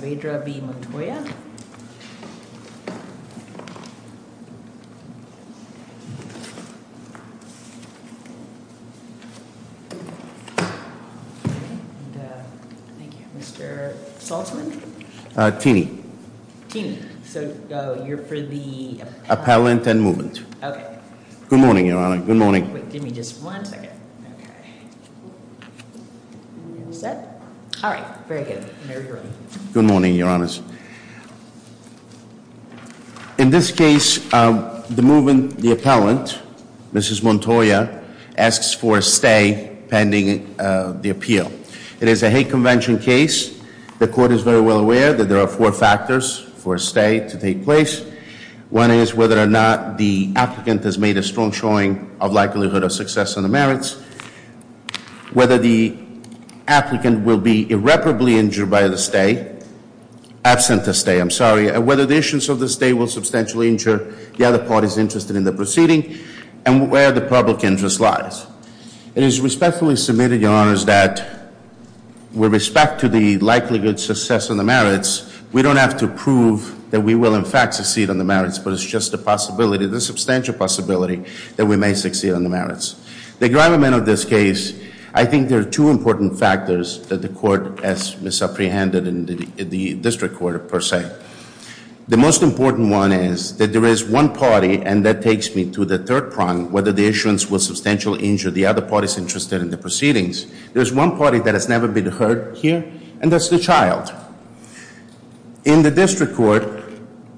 Thank you. Mr. Saltzman? Teeny. Teeny. So you're for the appellant and movement. Okay. Good morning, Your Honor. Good morning. Wait. Give me just one second. Okay. All right. Very good. Good morning, Your Honors. In this case, the movement, the appellant, Mrs. Montoya, asks for a stay pending the appeal. It is a hate convention case. The court is very well aware that there are four factors for a stay to take place. One is whether or not the applicant has made a strong showing of likelihood of success in the merits. Whether the applicant will be irreparably injured by the stay. Absent the stay, I'm sorry. And whether the issuance of the stay will substantially injure the other parties interested in the proceeding and where the public interest lies. It is respectfully submitted, Your Honors, that with respect to the likelihood success in the merits, we don't have to prove that we will in fact succeed in the merits, but it's just a possibility, the substantial possibility that we may succeed in the merits. The gravamen of this case, I think there are two important factors that the court has misapprehended in the district court per se. The most important one is that there is one party, and that takes me to the third prong, whether the issuance will substantially injure the other parties interested in the proceedings. There's one party that has never been heard here, and that's the child. In the district court,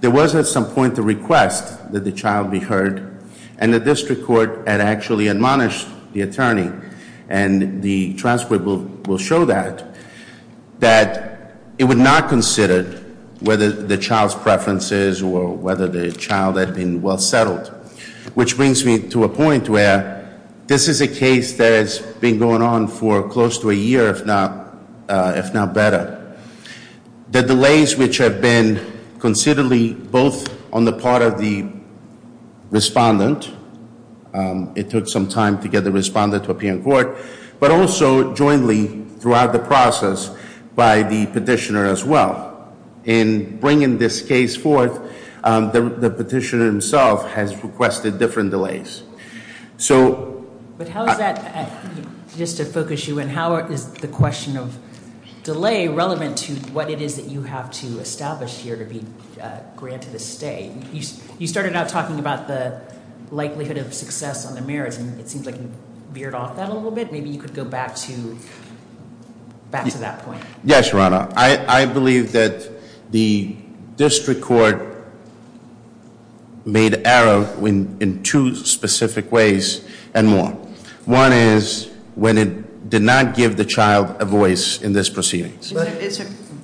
there was at some point the request that the child be heard, and the district court had actually admonished the attorney. And the transcript will show that, that it would not consider whether the child's preferences or whether the child had been well settled, which brings me to a point where this is a case that has been going on for close to a year, if not better. The delays which have been considerably both on the part of the respondent, it took some time to get the respondent to appear in court. But also jointly throughout the process by the petitioner as well. In bringing this case forth, the petitioner himself has requested different delays. So- Relevant to what it is that you have to establish here to be granted a stay. You started out talking about the likelihood of success on the merits, and it seems like you veered off that a little bit. Maybe you could go back to that point. Yes, Your Honor. I believe that the district court made error in two specific ways and more. One is when it did not give the child a voice in this proceeding.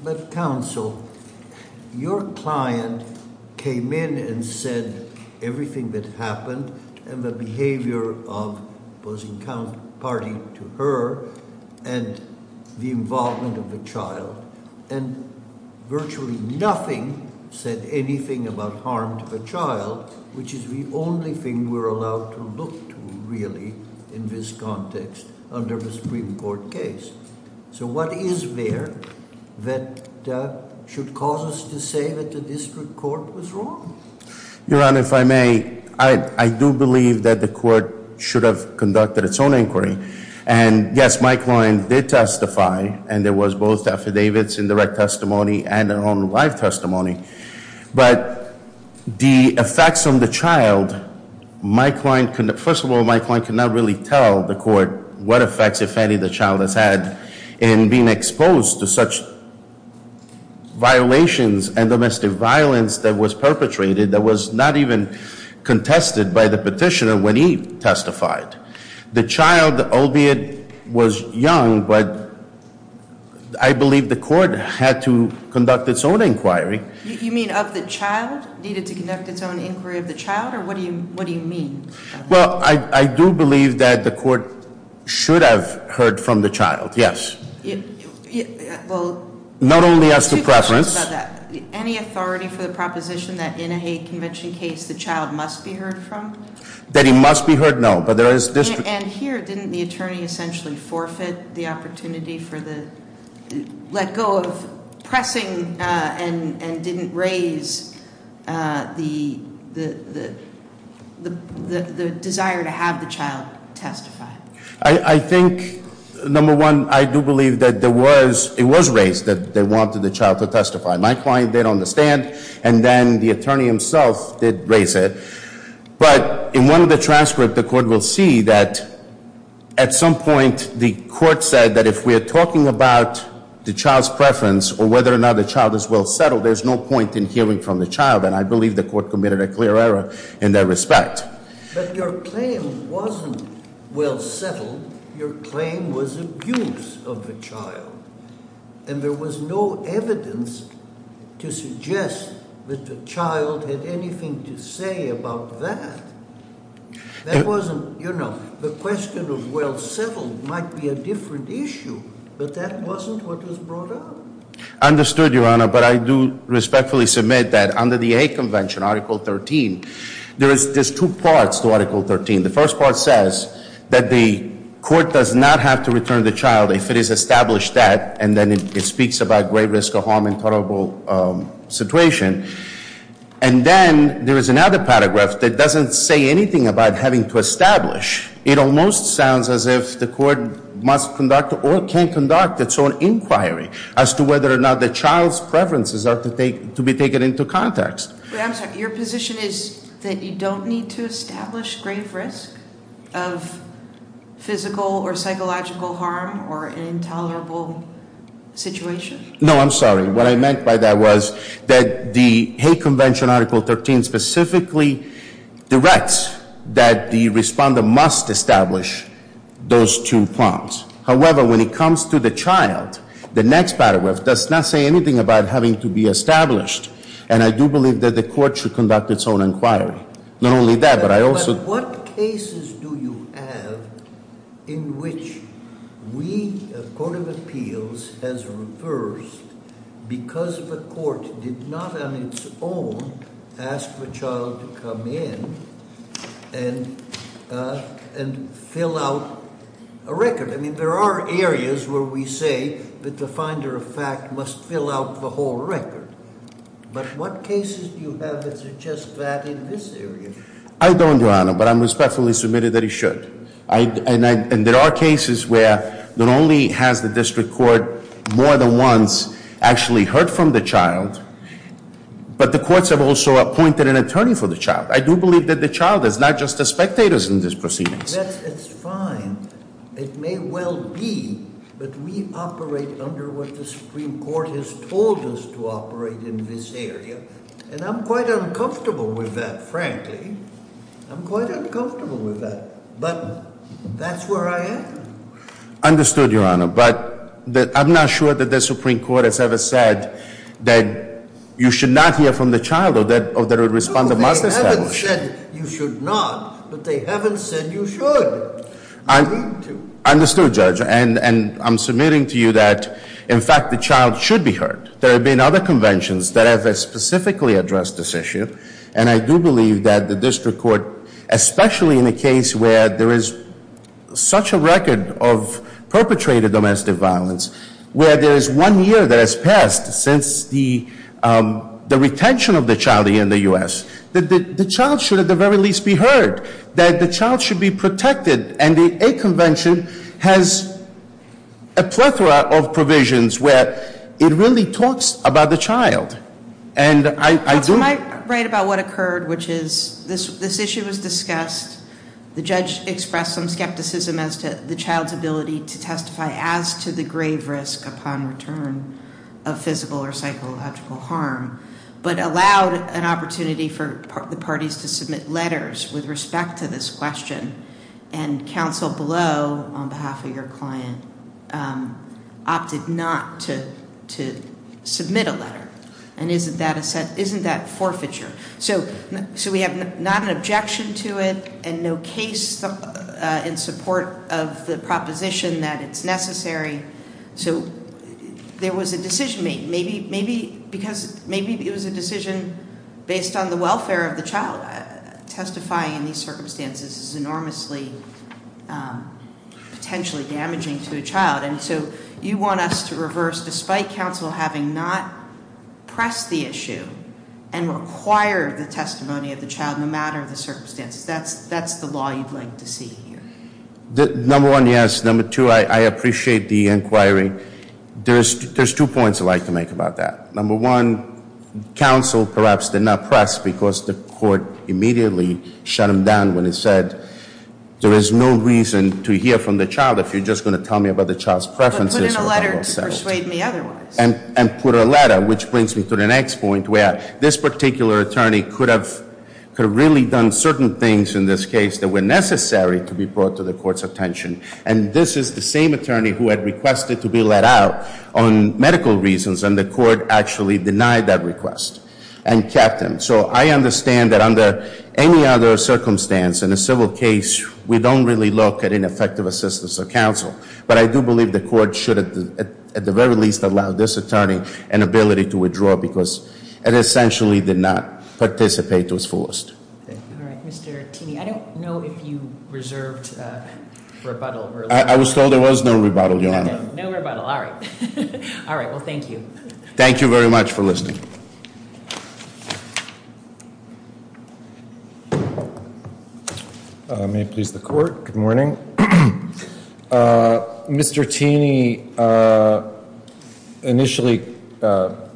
But counsel, your client came in and said everything that happened and the behavior of opposing party to her and the involvement of the child. And virtually nothing said anything about harm to the child, which is the only thing we're allowed to look to really in this context under the Supreme Court case. So what is there that should cause us to say that the district court was wrong? Your Honor, if I may, I do believe that the court should have conducted its own inquiry. And yes, my client did testify, and there was both affidavits and direct testimony and their own live testimony. But the effects on the child, first of all, my client could not really tell the court what effects, if any, the child has had in being exposed to such violations and domestic violence that was perpetrated. That was not even contested by the petitioner when he testified. The child, albeit was young, but I believe the court had to conduct its own inquiry. You mean of the child, needed to conduct its own inquiry of the child, or what do you mean? Well, I do believe that the court should have heard from the child, yes. Well- Not only as to preference- Two questions about that. Any authority for the proposition that in a hate convention case, the child must be heard from? That he must be heard, no, but there is district- And here, didn't the attorney essentially forfeit the opportunity for the let go of pressing and didn't raise the desire to have the child testify? I think, number one, I do believe that it was raised that they wanted the child to testify. My client did understand, and then the attorney himself did raise it. But in one of the transcripts, the court will see that at some point, the court said that if we are talking about the child's preference, or whether or not the child is well settled, there's no point in hearing from the child, and I believe the court committed a clear error in that respect. But your claim wasn't well settled. Your claim was abuse of the child. And there was no evidence to suggest that the child had anything to say about that. That wasn't, you know, the question of well settled might be a different issue, but that wasn't what was brought up. I understood, Your Honor, but I do respectfully submit that under the hate convention, Article 13, there's two parts to Article 13. The first part says that the court does not have to return the child if it is established that, and then it speaks about great risk of harm and tolerable situation. And then there is another paragraph that doesn't say anything about having to establish. It almost sounds as if the court must conduct or can conduct its own inquiry as to whether or not the child's preferences are to be taken into context. I'm sorry, your position is that you don't need to establish grave risk of physical or psychological harm or an intolerable situation? No, I'm sorry. What I meant by that was that the hate convention Article 13 specifically directs that the respondent must establish those two prompts. However, when it comes to the child, the next paragraph does not say anything about having to be established. And I do believe that the court should conduct its own inquiry. Not only that, but I also- What cases do you have in which we, a court of appeals, has reversed because the court did not on its own ask the child to come in and fill out a record? I mean, there are areas where we say that the finder of fact must fill out the whole record. But what cases do you have that suggest that in this area? I don't, your honor, but I'm respectfully submitted that he should. And there are cases where not only has the district court more than once actually heard from the child, but the courts have also appointed an attorney for the child. I do believe that the child is not just a spectator in this proceedings. That's fine. It may well be, but we operate under what the Supreme Court has told us to operate in this area. And I'm quite uncomfortable with that, frankly. I'm quite uncomfortable with that. But that's where I am. Understood, your honor. But I'm not sure that the Supreme Court has ever said that you should not hear from the child or that a responder must establish. No, they haven't said you should not. But they haven't said you should. Agreed to. Understood, judge. And I'm submitting to you that, in fact, the child should be heard. There have been other conventions that have specifically addressed this issue. And I do believe that the district court, especially in a case where there is such a record of perpetrated domestic violence, where there is one year that has passed since the retention of the child here in the U.S., that the child should at the very least be heard, that the child should be protected. And a convention has a plethora of provisions where it really talks about the child. And I do- I might write about what occurred, which is this issue was discussed. The judge expressed some skepticism as to the child's ability to testify as to the grave risk upon return of physical or psychological harm. But allowed an opportunity for the parties to submit letters with respect to this question. And counsel below, on behalf of your client, opted not to submit a letter. And isn't that forfeiture? So we have not an objection to it and no case in support of the proposition that it's necessary. So there was a decision made, maybe because it was a decision based on the welfare of the child. Testifying in these circumstances is enormously potentially damaging to a child. And so you want us to reverse, despite counsel having not pressed the issue and required the testimony of the child no matter the circumstances. That's the law you'd like to see here. Number one, yes. Number two, I appreciate the inquiry. There's two points I'd like to make about that. Number one, counsel perhaps did not press because the court immediately shut him down when it said, there is no reason to hear from the child if you're just going to tell me about the child's preferences for a couple of seconds. But put in a letter to persuade me otherwise. And put a letter, which brings me to the next point where this particular attorney could have really done certain things in this case that were necessary to be brought to the court's attention. And this is the same attorney who had requested to be let out on medical reasons, and the court actually denied that request and kept him. So I understand that under any other circumstance in a civil case, we don't really look at ineffective assistance of counsel. But I do believe the court should at the very least allow this attorney an ability to withdraw because it essentially did not participate to its fullest. All right. Mr. Tini, I don't know if you reserved rebuttal earlier. I was told there was no rebuttal, Your Honor. No rebuttal. All right. All right. Well, thank you. Thank you very much for listening. May it please the court. Good morning. Mr. Tini initially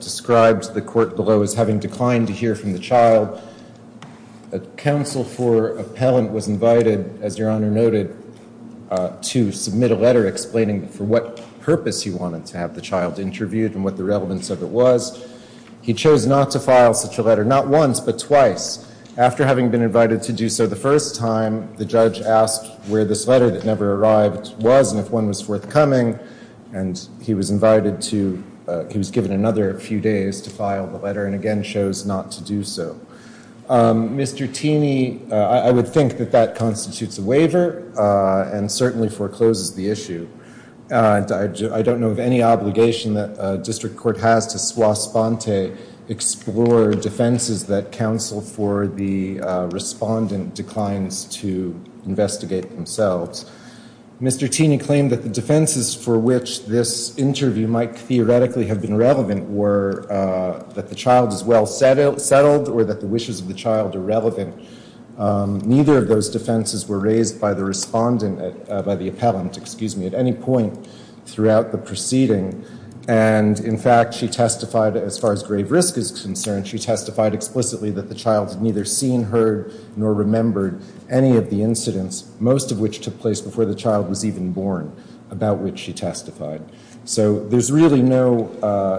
described the court below as having declined to hear from the child. A counsel for appellant was invited, as Your Honor noted, to submit a letter explaining for what purpose he wanted to have the child interviewed and what the relevance of it was. He chose not to file such a letter, not once but twice. After having been invited to do so the first time, the judge asked where this letter that never arrived was and if one was forthcoming, and he was invited to, he was given another few days to file the letter and again chose not to do so. Mr. Tini, I would think that that constitutes a waiver and certainly forecloses the issue. I don't know of any obligation that a district court has to swa sponte, explore defenses that counsel for the respondent declines to investigate themselves. Mr. Tini claimed that the defenses for which this interview might theoretically have been relevant were that the child is well settled or that the wishes of the child are relevant. Neither of those defenses were raised by the respondent, by the appellant, excuse me, at any point throughout the proceeding. And, in fact, she testified, as far as grave risk is concerned, she testified explicitly that the child had neither seen, heard, nor remembered any of the incidents, most of which took place before the child was even born, about which she testified. So there's really no,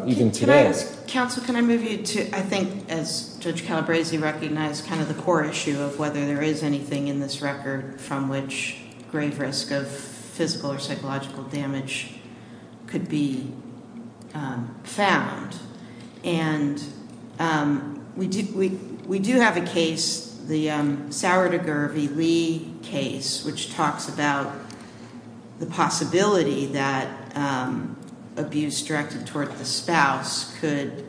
even today. Counsel, can I move you to, I think, as Judge Calabresi recognized, kind of the core issue of whether there is anything in this record from which grave risk of physical or psychological damage could be found. And we do have a case, the Sauer to Gervie Lee case, which talks about the possibility that abuse directed toward the spouse could,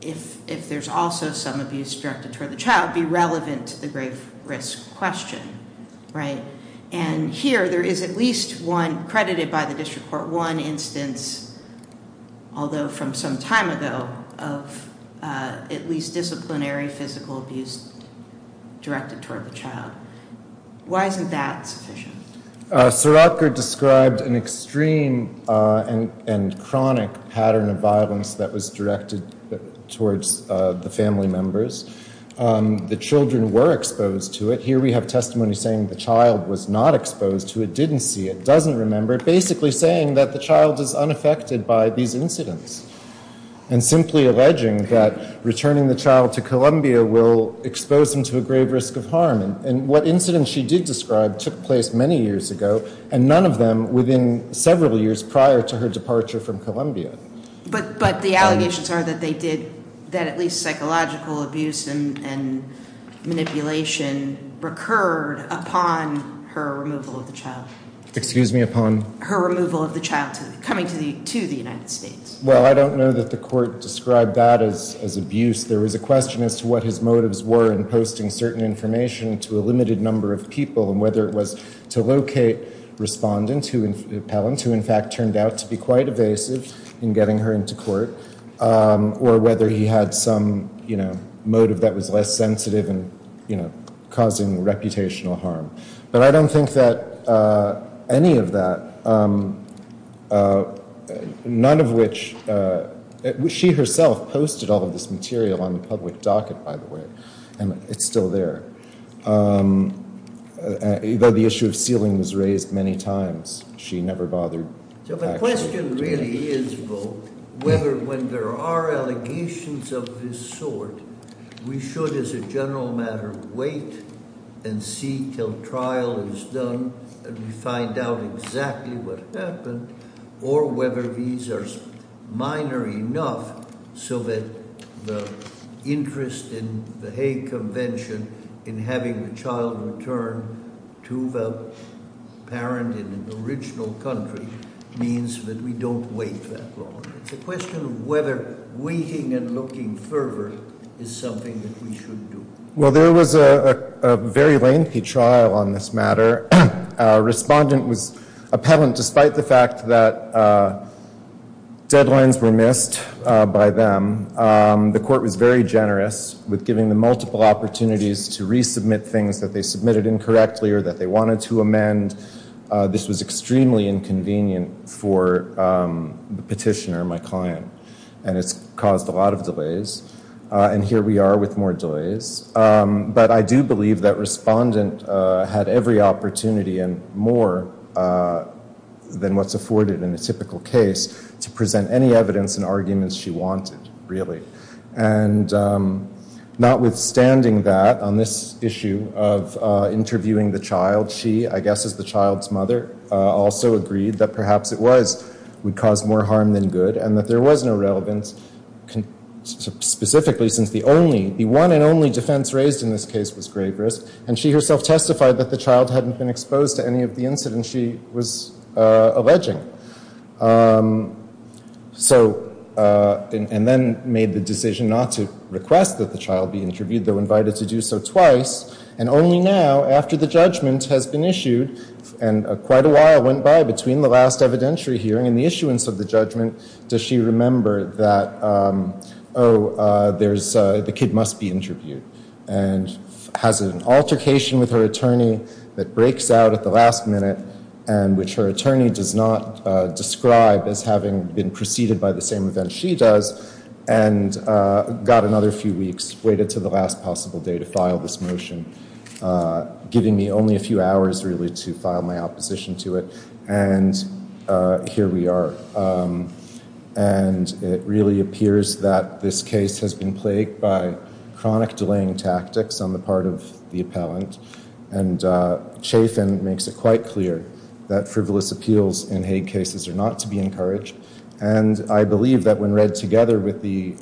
if there's also some abuse directed toward the child, be relevant to the grave risk question. And here there is at least one, credited by the district court, one instance, although from some time ago, of at least disciplinary physical abuse directed toward the child. Why isn't that sufficient? Suratgar described an extreme and chronic pattern of violence that was directed towards the family members. The children were exposed to it. Here we have testimony saying the child was not exposed to it, didn't see it, doesn't remember it, basically saying that the child is unaffected by these incidents and simply alleging that returning the child to Columbia will expose them to a grave risk of harm. And what incidents she did describe took place many years ago and none of them within several years prior to her departure from Columbia. But the allegations are that they did, that at least psychological abuse and manipulation recurred upon her removal of the child. Excuse me, upon? Her removal of the child coming to the United States. Well, I don't know that the court described that as abuse. There was a question as to what his motives were in posting certain information to a limited number of people and whether it was to locate a respondent, an appellant, who in fact turned out to be quite evasive in getting her into court, or whether he had some motive that was less sensitive and causing reputational harm. But I don't think that any of that, none of which, she herself posted all of this material on the public docket, by the way, and it's still there. Though the issue of sealing was raised many times, she never bothered. So the question really is, though, whether when there are allegations of this sort, we should, as a general matter, wait and see till trial is done and we find out exactly what happened, or whether these are minor enough so that the interest in the Hague Convention in having the child returned to the parent in an original country means that we don't wait that long. It's a question of whether waiting and looking further is something that we should do. Well, there was a very lengthy trial on this matter. A respondent was appellant despite the fact that deadlines were missed by them. The court was very generous with giving them multiple opportunities to resubmit things that they submitted incorrectly or that they wanted to amend. This was extremely inconvenient for the petitioner, my client, and it's caused a lot of delays. And here we are with more delays. But I do believe that respondent had every opportunity and more than what's afforded in a typical case to present any evidence and arguments she wanted, really. Notwithstanding that, on this issue of interviewing the child, she, I guess as the child's mother, also agreed that perhaps it would cause more harm than good and that there was no relevance, specifically since the one and only defense raised in this case was grave risk. And she herself testified that the child hadn't been exposed to any of the incidents she was alleging. And then made the decision not to request that the child be interviewed, though invited to do so twice. And only now, after the judgment has been issued, and quite a while went by between the last evidentiary hearing and the issuance of the judgment, does she remember that, oh, the kid must be interviewed. And has an altercation with her attorney that breaks out at the last minute and which her attorney does not describe as having been preceded by the same event she does and got another few weeks, waited to the last possible day to file this motion, giving me only a few hours, really, to file my opposition to it. And here we are. And it really appears that this case has been plagued by chronic delaying tactics on the part of the appellant. And Chafin makes it quite clear that frivolous appeals in Hague cases are not to be encouraged. And I believe that when read together with the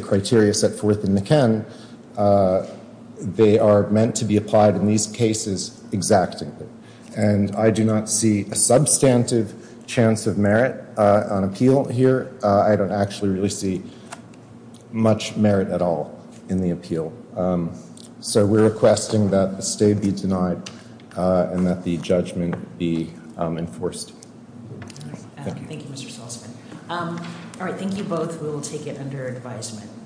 criteria set forth in the Ken, they are meant to be applied in these cases exactingly. And I do not see a substantive chance of merit on appeal here. I don't actually really see much merit at all in the appeal. So we're requesting that the stay be denied and that the judgment be enforced. Thank you, Mr. Salzman. All right, thank you both. We will take it under advisement.